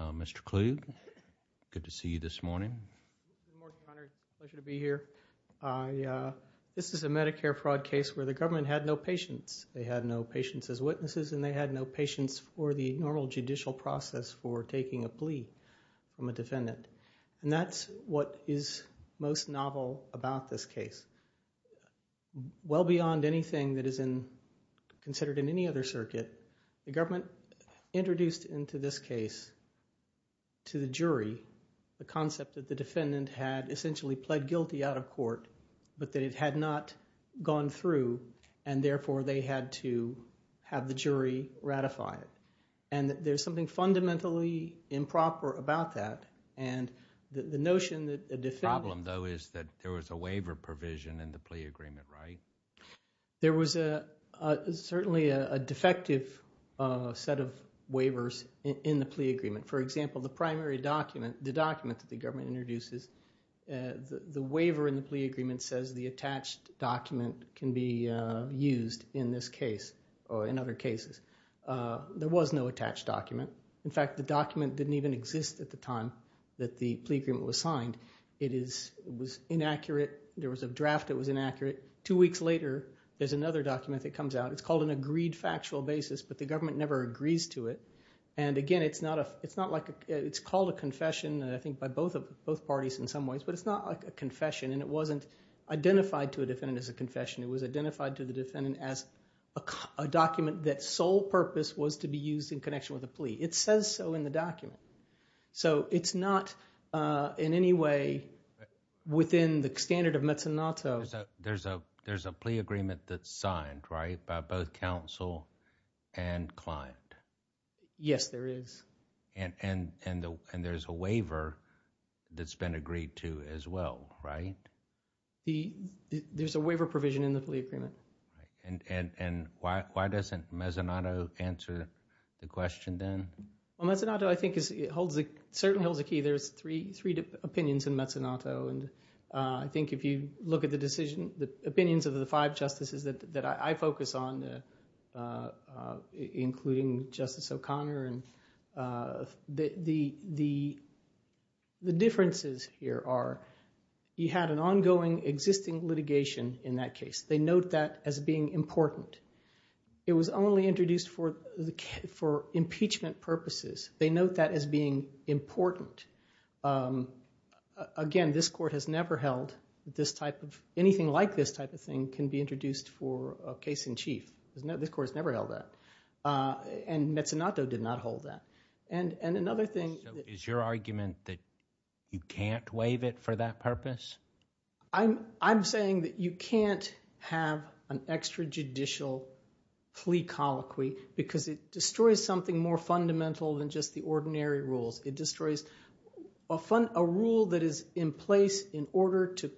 Mr. Kluge, good to see you this morning. Good morning, Your Honor. It's a pleasure to be here. This is a Medicare fraud case where the government had no patience. They had no patience as witnesses, and they had no patience for the normal judicial process for taking a plea from a defendant, and that's what is most novel about this case. Well beyond anything that is considered in any other circuit, the government introduced into this case to the jury the concept that the defendant had essentially pled guilty out of court, but that it had not gone through, and therefore, they had to have the jury ratify it. And there's something fundamentally improper about that, and the notion that the defendant... The problem though is that there was a waiver provision in the plea agreement, right? There was certainly a defective set of waivers in the plea agreement. For example, the primary document, the document that the government introduces, the waiver in the plea agreement says the attached document can be used in this case or in other cases. There was no attached document. In fact, the document didn't even exist at the time that the plea agreement was signed. There was a draft that was inaccurate. Two weeks later, there's another document that comes out. It's called an agreed factual basis, but the government never agrees to it. And again, it's not like... it's called a confession, I think, by both parties in some ways, but it's not like a confession, and it wasn't identified to a defendant as a confession. It was identified to the defendant as a document that sole purpose was to be used in connection with a plea. It says so in the document. So it's not in any way within the standard of mezzanotto. There's a plea agreement that's signed, right, by both counsel and client? Yes, there is. And there's a waiver that's been agreed to as well, right? There's a waiver provision in the plea agreement. And why doesn't mezzanotto answer the question then? Well, mezzanotto, I think, certainly holds a key. There's three opinions in mezzanotto. I think if you look at the decision, the opinions of the five justices that I focus on, including Justice O'Connor, the differences here are you had an ongoing existing litigation in that case. They note that as being important. It was only introduced for impeachment purposes. They note that as being important. Again, this court has never held this type of, anything like this type of thing can be introduced for a case in chief. This court has never held that. And mezzanotto did not hold that. And another thing. So is your argument that you can't waive it for that purpose? I'm saying that you can't have an extrajudicial plea colloquy because it destroys something more fundamental than just the ordinary rules. It destroys a rule that is in place in order to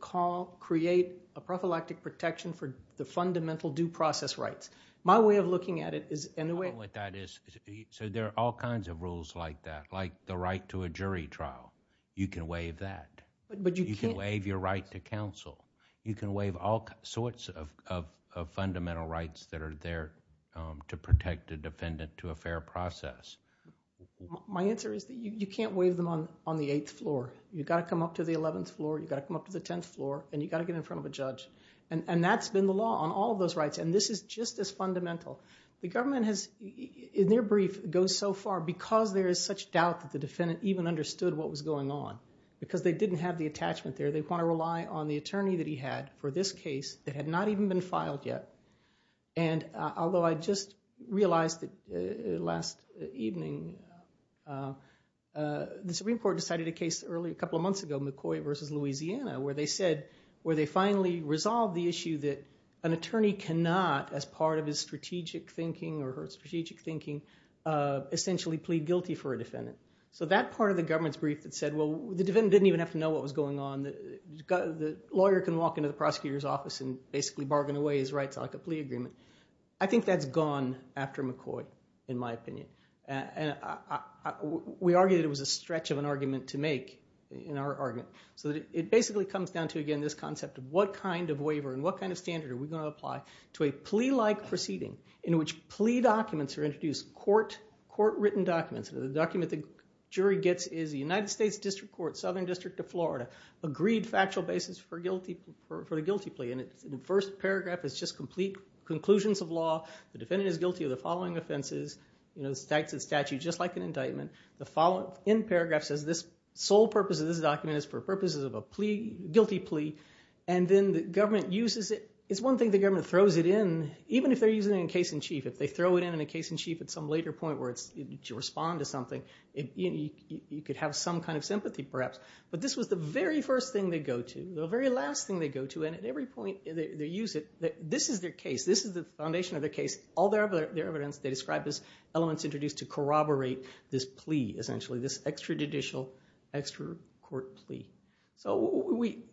create a prophylactic protection for the fundamental due process rights. My way of looking at it is... I don't know what that is. So there are all kinds of rules like that, like the right to a jury trial. You can waive that. But you can't... You can waive your right to counsel. You can waive all sorts of fundamental rights that are there to protect a defendant to a fair process. My answer is that you can't waive them on the eighth floor. You've got to come up to the 11th floor. You've got to come up to the 10th floor. And you've got to get in front of a judge. And that's been the law on all of those rights. And this is just as fundamental. The government has, in their brief, goes so far because there is such doubt that the defendant even understood what was going on. Because they didn't have the attachment there. They want to rely on the attorney that he had for this case that had not even been filed yet. And although I just realized that last evening, the Supreme Court decided a case a couple of months ago, McCoy v. Louisiana, where they said, where they finally resolved the issue that an attorney cannot, as part of his strategic thinking or her strategic thinking, essentially plead guilty for a defendant. So that part of the government's brief that said, well, the defendant didn't even have to know what was going on. The lawyer can walk into the prosecutor's office and basically bargain away his rights like a plea agreement. I think that's gone after McCoy, in my opinion. We argue that it was a stretch of an argument to make in our argument. So it basically comes down to, again, this concept of what kind of waiver and what kind of standard are we going to apply to a plea-like proceeding in which plea documents are introduced, court-written documents. The document the jury gets is the United States District Court, Southern District of Florida, agreed factual basis for the guilty plea. And the first paragraph is just complete conclusions of law. The defendant is guilty of the following offenses, the statute, just like an indictment. The follow-up end paragraph says this sole purpose of this document is for purposes of a guilty plea. And then the government uses it. It's one thing the government throws it in, even if they're using it in case in chief. If they throw it in in a case in chief at some later point where it's to respond to something, you could have some kind of sympathy, perhaps. But this was the very first thing they go to, the very last thing they go to. And at every point they use it. This is their case. This is the foundation of their case. All their evidence they describe as elements introduced to corroborate this plea, essentially, this extrajudicial, extra-court plea. So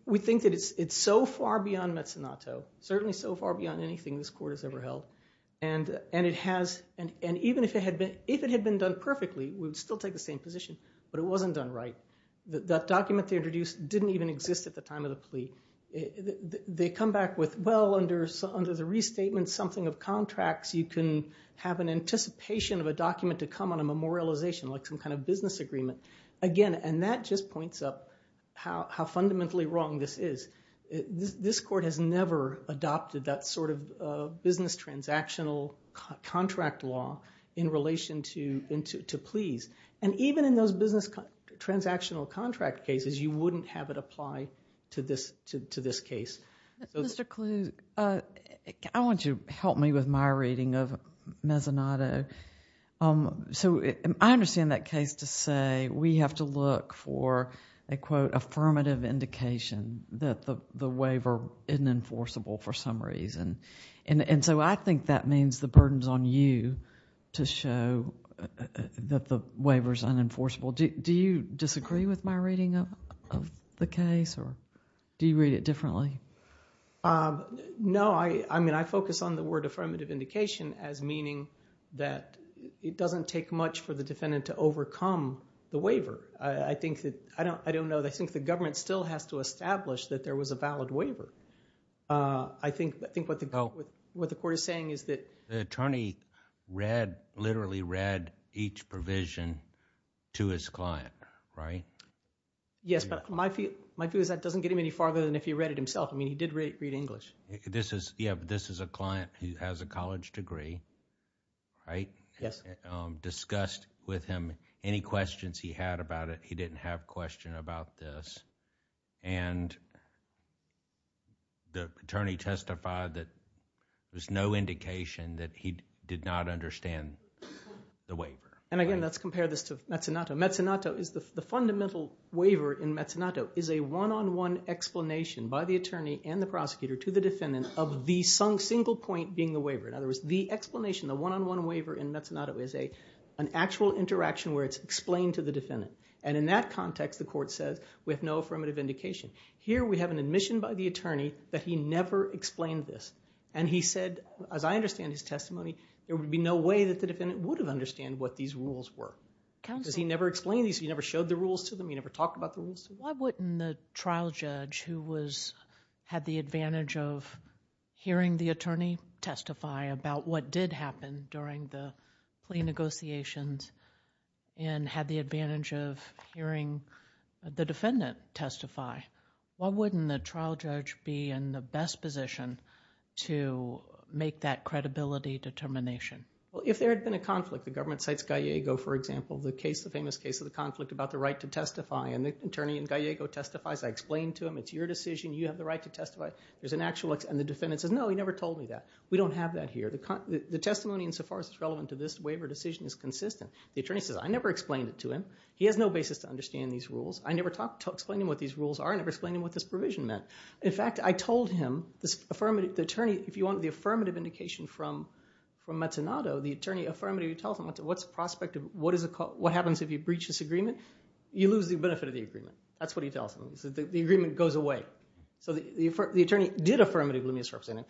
we think that it's so far beyond mezzanotto, certainly so far beyond anything this court has ever held. And even if it had been done perfectly, we would still take the same position, but it wasn't done right. That document they introduced didn't even exist at the time of the plea. They come back with, well, under the restatement, something of contracts, you can have an anticipation of a document to come on a memorialization, like some kind of business agreement. Again, and that just points up how fundamentally wrong this is. This court has never adopted that sort of business transactional contract law in relation to pleas. And even in those business transactional contract cases, you wouldn't have it apply to this case. Mr. Kluge, I want you to help me with my reading of mezzanotto. So I understand that case to say we have to look for a, quote, affirmative indication that the waiver isn't enforceable for some reason. And so I think that means the burden's on you to show that the waiver's unenforceable. Do you disagree with my reading of the case, or do you read it differently? No, I mean, I focus on the word affirmative indication as meaning that it doesn't take much for the defendant to overcome the waiver. I think that, I don't know, I think the government still has to establish that there was a valid waiver. I think what the court is saying is that... The attorney read, literally read, each provision to his client, right? Yes, but my view is that doesn't get him any farther than if he read it himself. I mean, he did read English. This is, yeah, but this is a client who has a college degree, right? Yes. Discussed with him any questions he had about it. He didn't have questions about this. And the attorney testified that there's no indication that he did not understand the waiver. And again, let's compare this to Mezzanato. Mezzanato, the fundamental waiver in Mezzanato is a one-on-one explanation by the attorney and the prosecutor to the defendant of the single point being the waiver. In other words, the explanation, the one-on-one waiver in Mezzanato is an actual interaction where it's explained to the defendant. And in that context, the court says, we have no affirmative indication. Here we have an admission by the attorney that he never explained this. And he said, as I understand his testimony, there would be no way that the defendant would have understood what these rules were. Because he never explained these, he never showed the rules to them, he never talked about the rules. Why wouldn't the trial judge who had the advantage of hearing the attorney testify about what did happen during the plea negotiations and had the advantage of hearing the defendant testify, why wouldn't the trial judge be in the best position to make that credibility determination? Well, if there had been a conflict, the government cites Gallego, for example, the case, the famous case of the conflict about the right to testify. And the attorney in Gallego testifies, I explained to him, it's your decision, you have the right to testify. There's an actual, and the defendant says, no, he never told me that. We don't have that here. The testimony insofar as it's relevant to this waiver decision is consistent. The attorney says, I never explained it to him. He has no basis to understand these rules. I never explained to him what these rules are, I never explained to him what this provision meant. In fact, I told him, the attorney, if you want the affirmative indication from Mazzanato, the attorney affirmatively tells him, what's the prospect of, what happens if you breach this agreement? You lose the benefit of the agreement. That's what he tells him. The agreement goes away. So the attorney did affirmatively misrepresent him.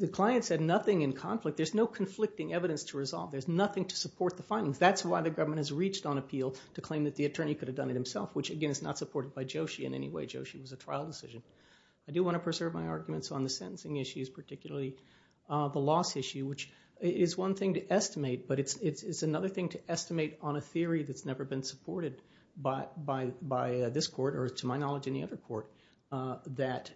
The client said nothing in conflict. There's no conflicting evidence to resolve. There's nothing to support the findings. That's why the government has reached on appeal to claim that the attorney could have done it himself, which, again, is not supported by Joshi in any way. Joshi was a trial decision. I do want to preserve my arguments on the sentencing issues, particularly the loss issue, which is one thing to estimate, but it's another thing to estimate on a theory that's never been supported by this court, or to my knowledge, any other court, that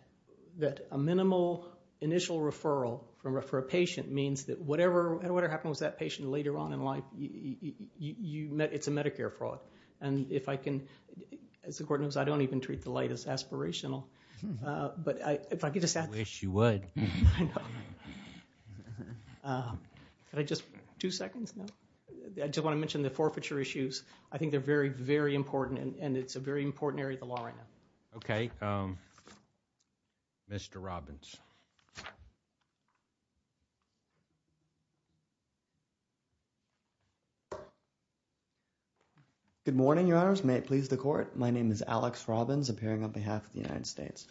a minimal initial report referral for a patient means that whatever happened with that patient later on in life, it's a Medicare fraud. And if I can, as the court knows, I don't even treat the light as aspirational. But if I could just add to that. I wish you would. I know. Could I just, two seconds? No? I just want to mention the forfeiture issues. I think they're very, very important, and it's a very important area of the law right now. Okay. Mr. Robbins. Good morning, Your Honors. May it please the Court? My name is Alex Robbins, appearing on behalf of the United States.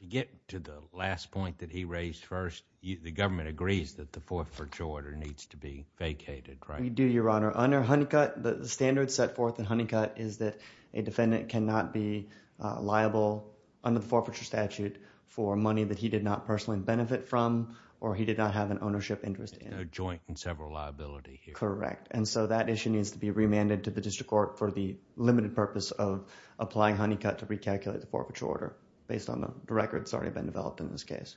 To get to the last point that he raised first, the government agrees that the forfeiture order needs to be vacated, right? We do, Your Honor. Under Honeycutt, the standard set forth in Honeycutt is that a defendant cannot be liable under the forfeiture statute for money that he did not personally benefit from, or he did not have an ownership interest in. There's no joint and several liability here. Correct. And so that issue needs to be remanded to the district court for the limited purpose of applying Honeycutt to recalculate the forfeiture order, based on the records already been developed in this case.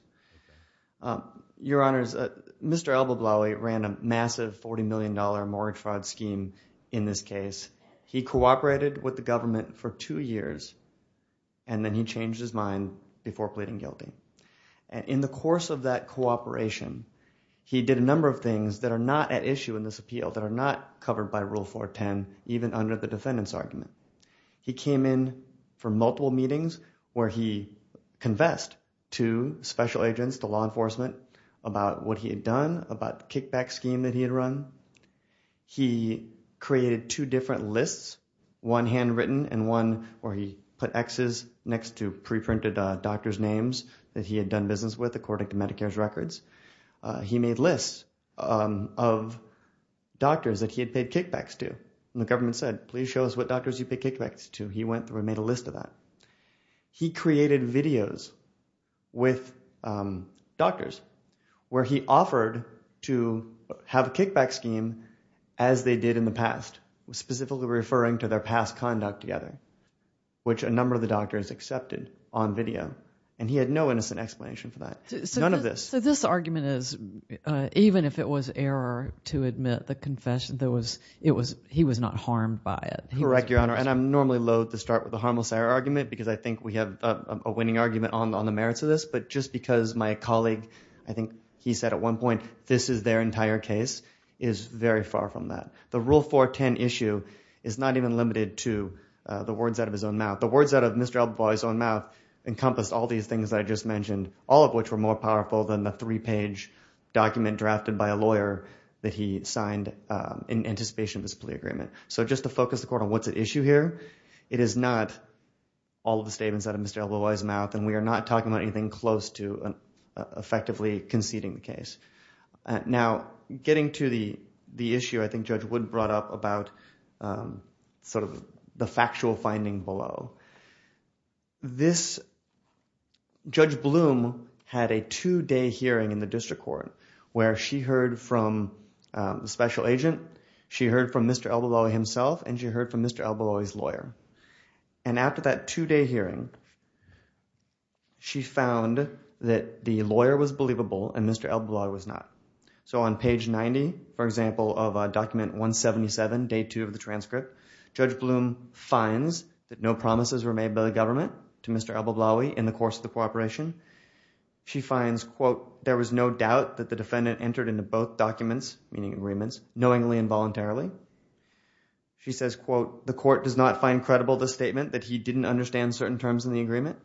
Your Honors, Mr. Albablawi ran a massive $40 million mortgage fraud scheme in this case. He cooperated with the government for two years, and then he changed his mind before pleading guilty. In the course of that cooperation, he did a number of things that are not at issue in this appeal, that are not covered by Rule 410, even under the defendant's argument. He came in for multiple meetings where he confessed to special agents, to law enforcement, about what he had done, about the kickback scheme that he had run. He created two different lists, one handwritten and one where he put X's next to pre-printed doctor's names that he had done business with, according to Medicare's records. He made lists of doctors that he had paid kickbacks to, and the government said, please show us what doctors you pay kickbacks to. He went through and made a list of that. He created videos with doctors where he offered to have a kickback scheme as they did in the past, specifically referring to their past conduct together, which a number of the doctors accepted on video, and he had no innocent explanation for that. None of this. So this argument is, even if it was error to admit the confession, he was not harmed by it. Correct, Your Honor. I'm normally loathe to start with a harmless error argument because I think we have a winning argument on the merits of this, but just because my colleague, I think he said at one point, this is their entire case, is very far from that. The Rule 410 issue is not even limited to the words out of his own mouth. The words out of Mr. Albavoy's own mouth encompassed all these things that I just mentioned, all of which were more powerful than the three-page document drafted by a lawyer that he signed in anticipation of this plea agreement. So just to focus the court on what's at issue here, it is not all of the statements out of Mr. Albavoy's mouth, and we are not talking about anything close to effectively conceding the case. Now getting to the issue I think Judge Wood brought up about sort of the factual finding below, Judge Bloom had a two-day hearing in the district court where she heard from the special agent, she heard from Mr. Albavoy himself, and she heard from Mr. Albavoy's lawyer. And after that two-day hearing, she found that the lawyer was believable and Mr. Albavoy was not. So on page 90, for example, of document 177, day two of the transcript, Judge Bloom finds that no promises were made by the government to Mr. Albavoy in the course of the cooperation. She finds, quote, there was no doubt that the defendant entered into both documents, meaning agreements, knowingly and voluntarily. She says, quote, the court does not find credible the statement that he didn't understand certain terms in the agreement.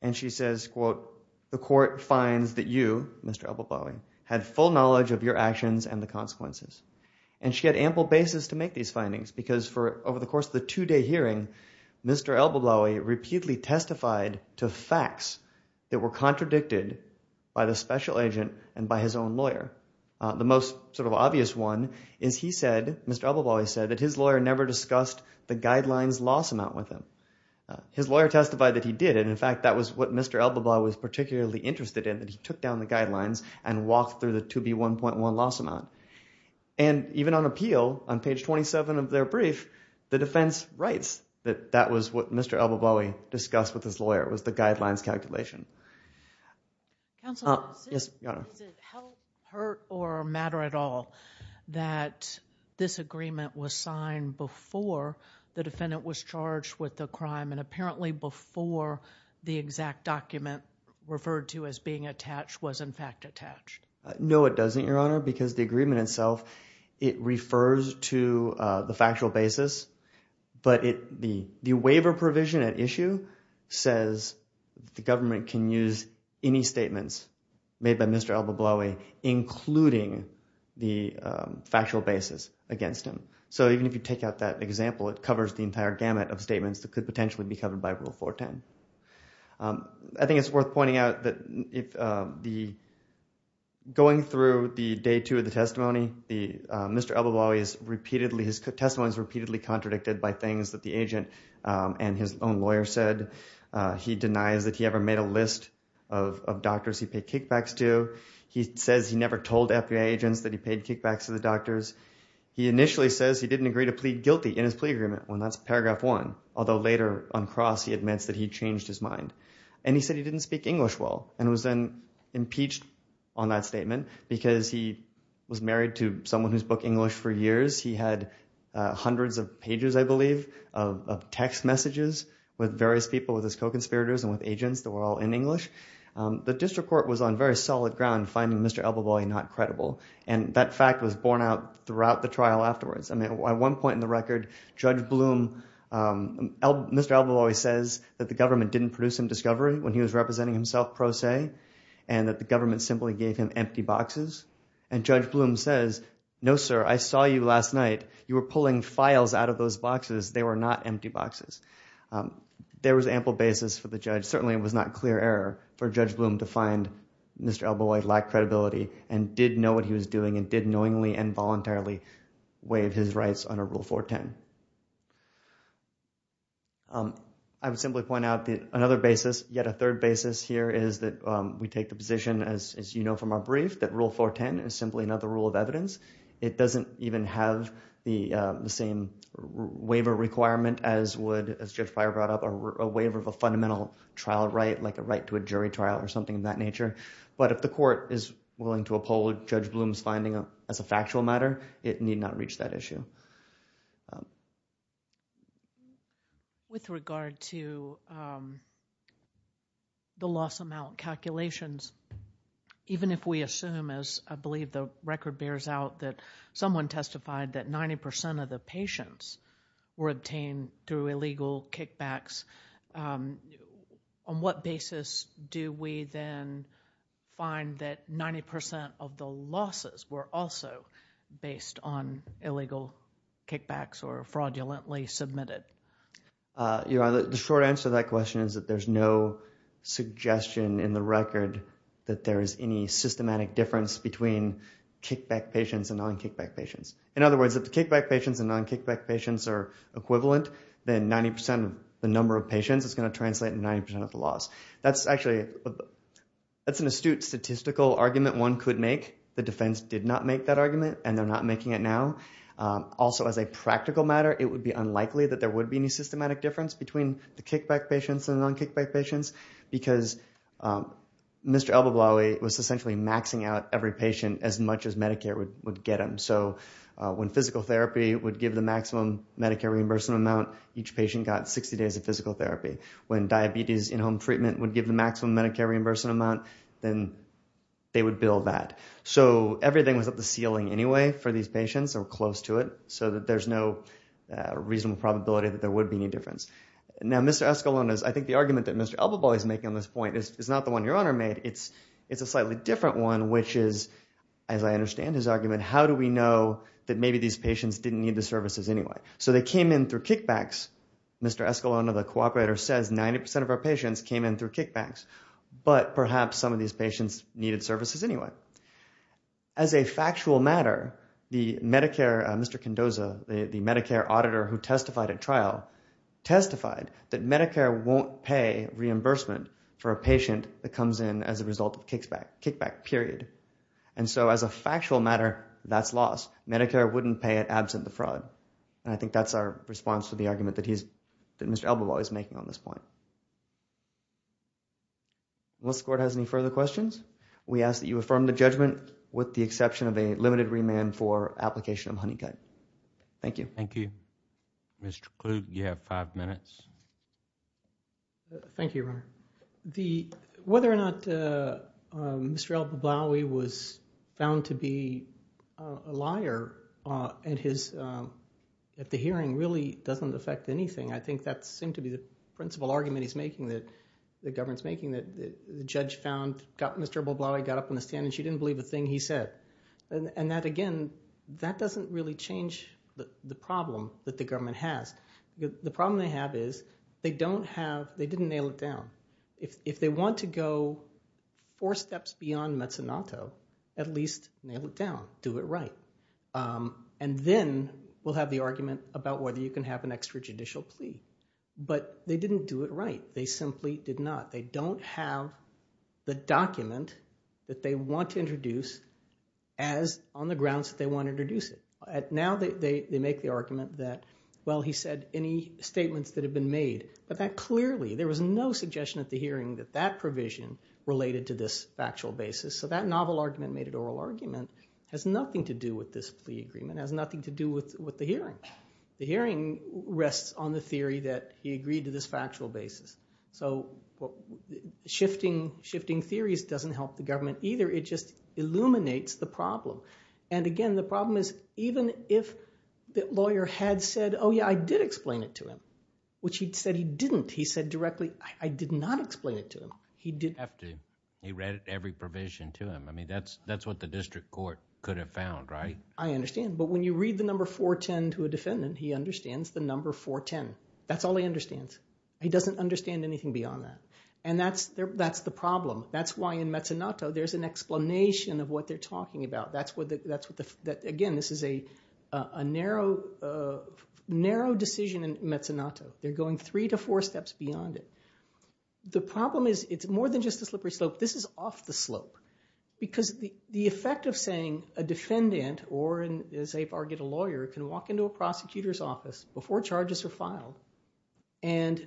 And she says, quote, the court finds that you, Mr. Albavoy, had full knowledge of your actions and the consequences. And she had ample basis to make these findings because for over the course of the two-day hearing, Mr. Albavoy repeatedly testified to facts that were contradicted by the special agent and by his own lawyer. The most sort of obvious one is he said, Mr. Albavoy said, that his lawyer never discussed the guidelines loss amount with him. His lawyer testified that he did, and in fact, that was what Mr. Albavoy was particularly interested in, that he took down the guidelines and walked through the 2B1.1 loss amount. And even on appeal, on page 27 of their brief, the defense writes that that was what Mr. Albavoy discussed with his lawyer, was the guidelines calculation. Counsel, does it help, hurt, or matter at all that this agreement was signed before the defendant was charged with the crime and apparently before the exact document referred to as being attached was in fact attached? No, it doesn't, Your Honor, because the agreement itself, it refers to the factual basis. But the waiver provision at issue says the government can use any statements made by Mr. Albavoy, including the factual basis against him. So even if you take out that example, it covers the entire gamut of statements that could potentially be covered by Rule 410. I think it's worth pointing out that going through the day two of the testimony, Mr. Albavoy's testimony is repeatedly contradicted by things that the agent and his own lawyer said. He denies that he ever made a list of doctors he paid kickbacks to. He says he never told FBI agents that he paid kickbacks to the doctors. He initially says he didn't agree to plead guilty in his plea agreement when that's paragraph one. Although later on cross, he admits that he changed his mind and he said he didn't speak English well and was then impeached on that statement because he was married to someone who's booked English for years. He had hundreds of pages, I believe, of text messages with various people, with his co-conspirators and with agents that were all in English. The district court was on very solid ground finding Mr. Albavoy not credible and that fact was borne out throughout the trial afterwards. At one point in the record, Mr. Albavoy says that the government didn't produce him discovery when he was representing himself pro se and that the government simply gave him empty boxes and Judge Bloom says, no sir, I saw you last night. You were pulling files out of those boxes. They were not empty boxes. There was ample basis for the judge. Certainly it was not clear error for Judge Bloom to find Mr. Albavoy lacked credibility and did know what he was doing and did knowingly and voluntarily waive his rights under Rule 410. I would simply point out that another basis, yet a third basis here is that we take the position, as you know from our brief, that Rule 410 is simply not the rule of evidence. It doesn't even have the same waiver requirement as would, as Judge Breyer brought up, a waiver of a fundamental trial right, like a right to a jury trial or something of that nature. But if the court is willing to uphold Judge Bloom's finding as a factual matter, it need not reach that issue. With regard to the loss amount calculations, even if we assume, as I believe the record bears out, that someone testified that 90% of the patients were obtained through illegal kickbacks, on what basis do we then find that 90% of the losses were also based on illegal kickbacks or fraudulently submitted? The short answer to that question is that there's no suggestion in the record that there is any systematic difference between kickback patients and non-kickback patients. In other words, if the kickback patients and non-kickback patients are equivalent, then 90% of the number of patients is going to translate in 90% of the loss. That's actually, that's an astute statistical argument one could make. The defense did not make that argument and they're not making it now. Also as a practical matter, it would be unlikely that there would be any systematic difference between the kickback patients and the non-kickback patients because Mr. Al-Bablawi was essentially maxing out every patient as much as Medicare would get them. So when physical therapy would give the maximum Medicare reimbursement amount, each patient got 60 days of physical therapy. When diabetes in-home treatment would give the maximum Medicare reimbursement amount, then they would bill that. So everything was at the ceiling anyway for these patients or close to it, so that there's no reasonable probability that there would be any difference. Now Mr. Escalon is, I think the argument that Mr. Al-Bablawi is making on this point is not the one your honor made, it's a slightly different one which is, as I understand his argument, we know that maybe these patients didn't need the services anyway. So they came in through kickbacks, Mr. Escalon, the cooperator, says 90% of our patients came in through kickbacks, but perhaps some of these patients needed services anyway. As a factual matter, the Medicare, Mr. Condoza, the Medicare auditor who testified at trial testified that Medicare won't pay reimbursement for a patient that comes in as a result of kickback, period. And so as a factual matter, that's lost. Medicare wouldn't pay it absent the fraud. And I think that's our response to the argument that Mr. Al-Bablawi is making on this point. Once the court has any further questions, we ask that you affirm the judgment with the exception of a limited remand for application of honeycut. Thank you. Thank you. Thank you, your honor. The, whether or not Mr. Al-Bablawi was found to be a liar at his, at the hearing really doesn't affect anything. I think that seemed to be the principle argument he's making that, the government's making that the judge found, got Mr. Al-Bablawi, got up on the stand and she didn't believe a thing he said. And that again, that doesn't really change the problem that the government has. The problem they have is they don't have, they didn't nail it down. If they want to go four steps beyond mezzanotto, at least nail it down, do it right. And then we'll have the argument about whether you can have an extra judicial plea. But they didn't do it right. They simply did not. They don't have the document that they want to introduce as on the grounds that they want to introduce it. Now they make the argument that, well, he said any statements that have been made, but that clearly, there was no suggestion at the hearing that that provision related to this factual basis. So that novel argument made an oral argument has nothing to do with this plea agreement, has nothing to do with the hearing. The hearing rests on the theory that he agreed to this factual basis. So shifting theories doesn't help the government either. It just illuminates the problem. And again, the problem is even if the lawyer had said, oh yeah, I did explain it to him, which he'd said he didn't. He said directly, I did not explain it to him. He didn't. He read every provision to him. I mean, that's what the district court could have found, right? I understand. But when you read the number 410 to a defendant, he understands the number 410. That's all he understands. He doesn't understand anything beyond that. And that's the problem. That's why in mezzanotto, there's an explanation of what they're talking about. Again, this is a narrow decision in mezzanotto. They're going three to four steps beyond it. The problem is it's more than just a slippery slope. This is off the slope. Because the effect of saying a defendant or, as they argue, a lawyer can walk into a prosecutor's office before charges are filed and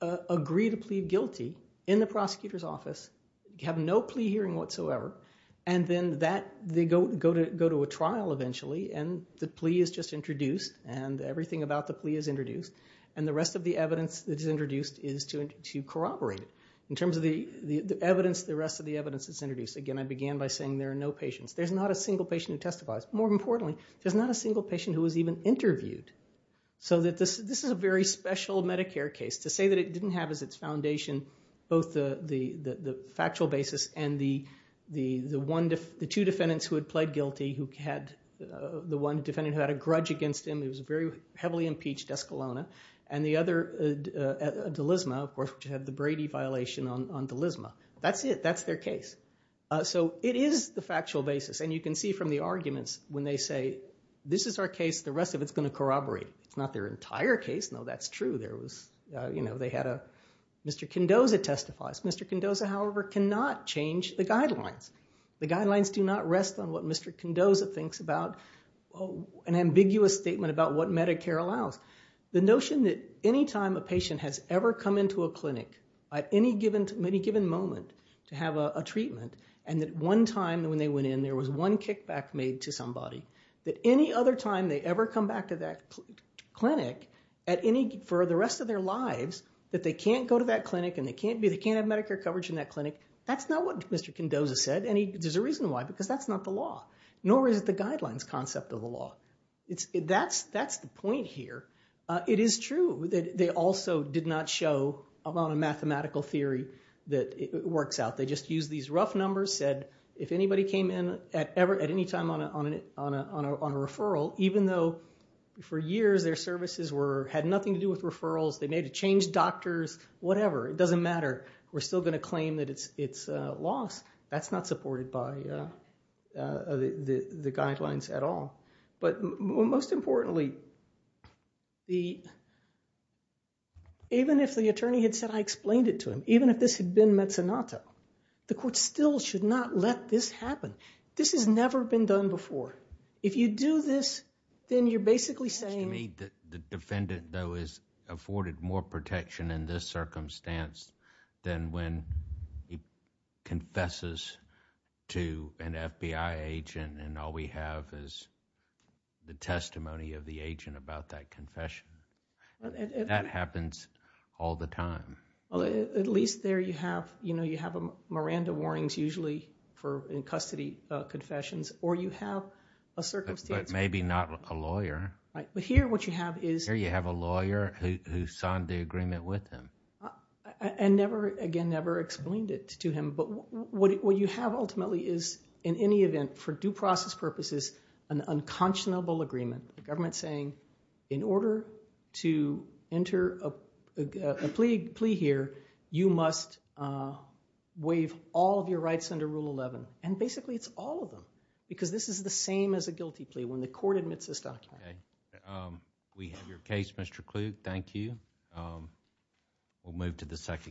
agree to plead guilty in the prosecutor's office, have no plea hearing whatsoever. And then they go to a trial eventually, and the plea is just introduced, and everything about the plea is introduced. And the rest of the evidence that is introduced is to corroborate it. In terms of the evidence, the rest of the evidence is introduced. Again, I began by saying there are no patients. There's not a single patient who testifies. More importantly, there's not a single patient who was even interviewed. So this is a very special Medicare case. To say that it didn't have as its foundation both the factual basis and the two defendants who had pled guilty, the one defendant who had a grudge against him, who was very heavily impeached, Escalona, and the other, DeLisma, of course, which had the Brady violation on DeLisma. That's it. That's their case. So it is the factual basis, and you can see from the arguments when they say, this is our case. The rest of it's going to corroborate. It's not their entire case. No, that's true. There was, you know, they had a, Mr. Condoza testifies. Mr. Condoza, however, cannot change the guidelines. The guidelines do not rest on what Mr. Condoza thinks about an ambiguous statement about what Medicare allows. The notion that any time a patient has ever come into a clinic at any given moment to have a treatment, and that one time when they went in, there was one kickback made to somebody, that any other time they ever come back to that clinic, for the rest of their lives, that they can't go to that clinic, and they can't have Medicare coverage in that clinic, that's not what Mr. Condoza said, and there's a reason why, because that's not the law, nor is it the guidelines concept of the law. That's the point here. It is true that they also did not show a lot of mathematical theory that works out. They just used these rough numbers, said, if anybody came in at any time on a referral, even though for years their services had nothing to do with referrals, they may have changed doctors, whatever, it doesn't matter, we're still going to claim that it's loss. That's not supported by the guidelines at all. But most importantly, even if the attorney had said, I explained it to him, even if this had been mezzanotto, the court still should not let this happen. This has never been done before. If you do this, then you're basically saying... It seems to me that the defendant, though, is afforded more protection in this circumstance than when he confesses to an FBI agent, and all we have is the testimony of the agent about that confession. That happens all the time. At least there you have Miranda warnings usually for in custody confessions, or you have a circumstance... But maybe not a lawyer. Right. But here what you have is... Here you have a lawyer who signed the agreement with him. And never, again, never explained it to him, but what you have ultimately is, in any event, for due process purposes, an unconscionable agreement, the government saying, in order to enter a plea here, you must waive all of your rights under Rule 11. And basically it's all of them, because this is the same as a guilty plea when the court admits this document. We have your case, Mr. Klug. Thank you. We'll move to the second case.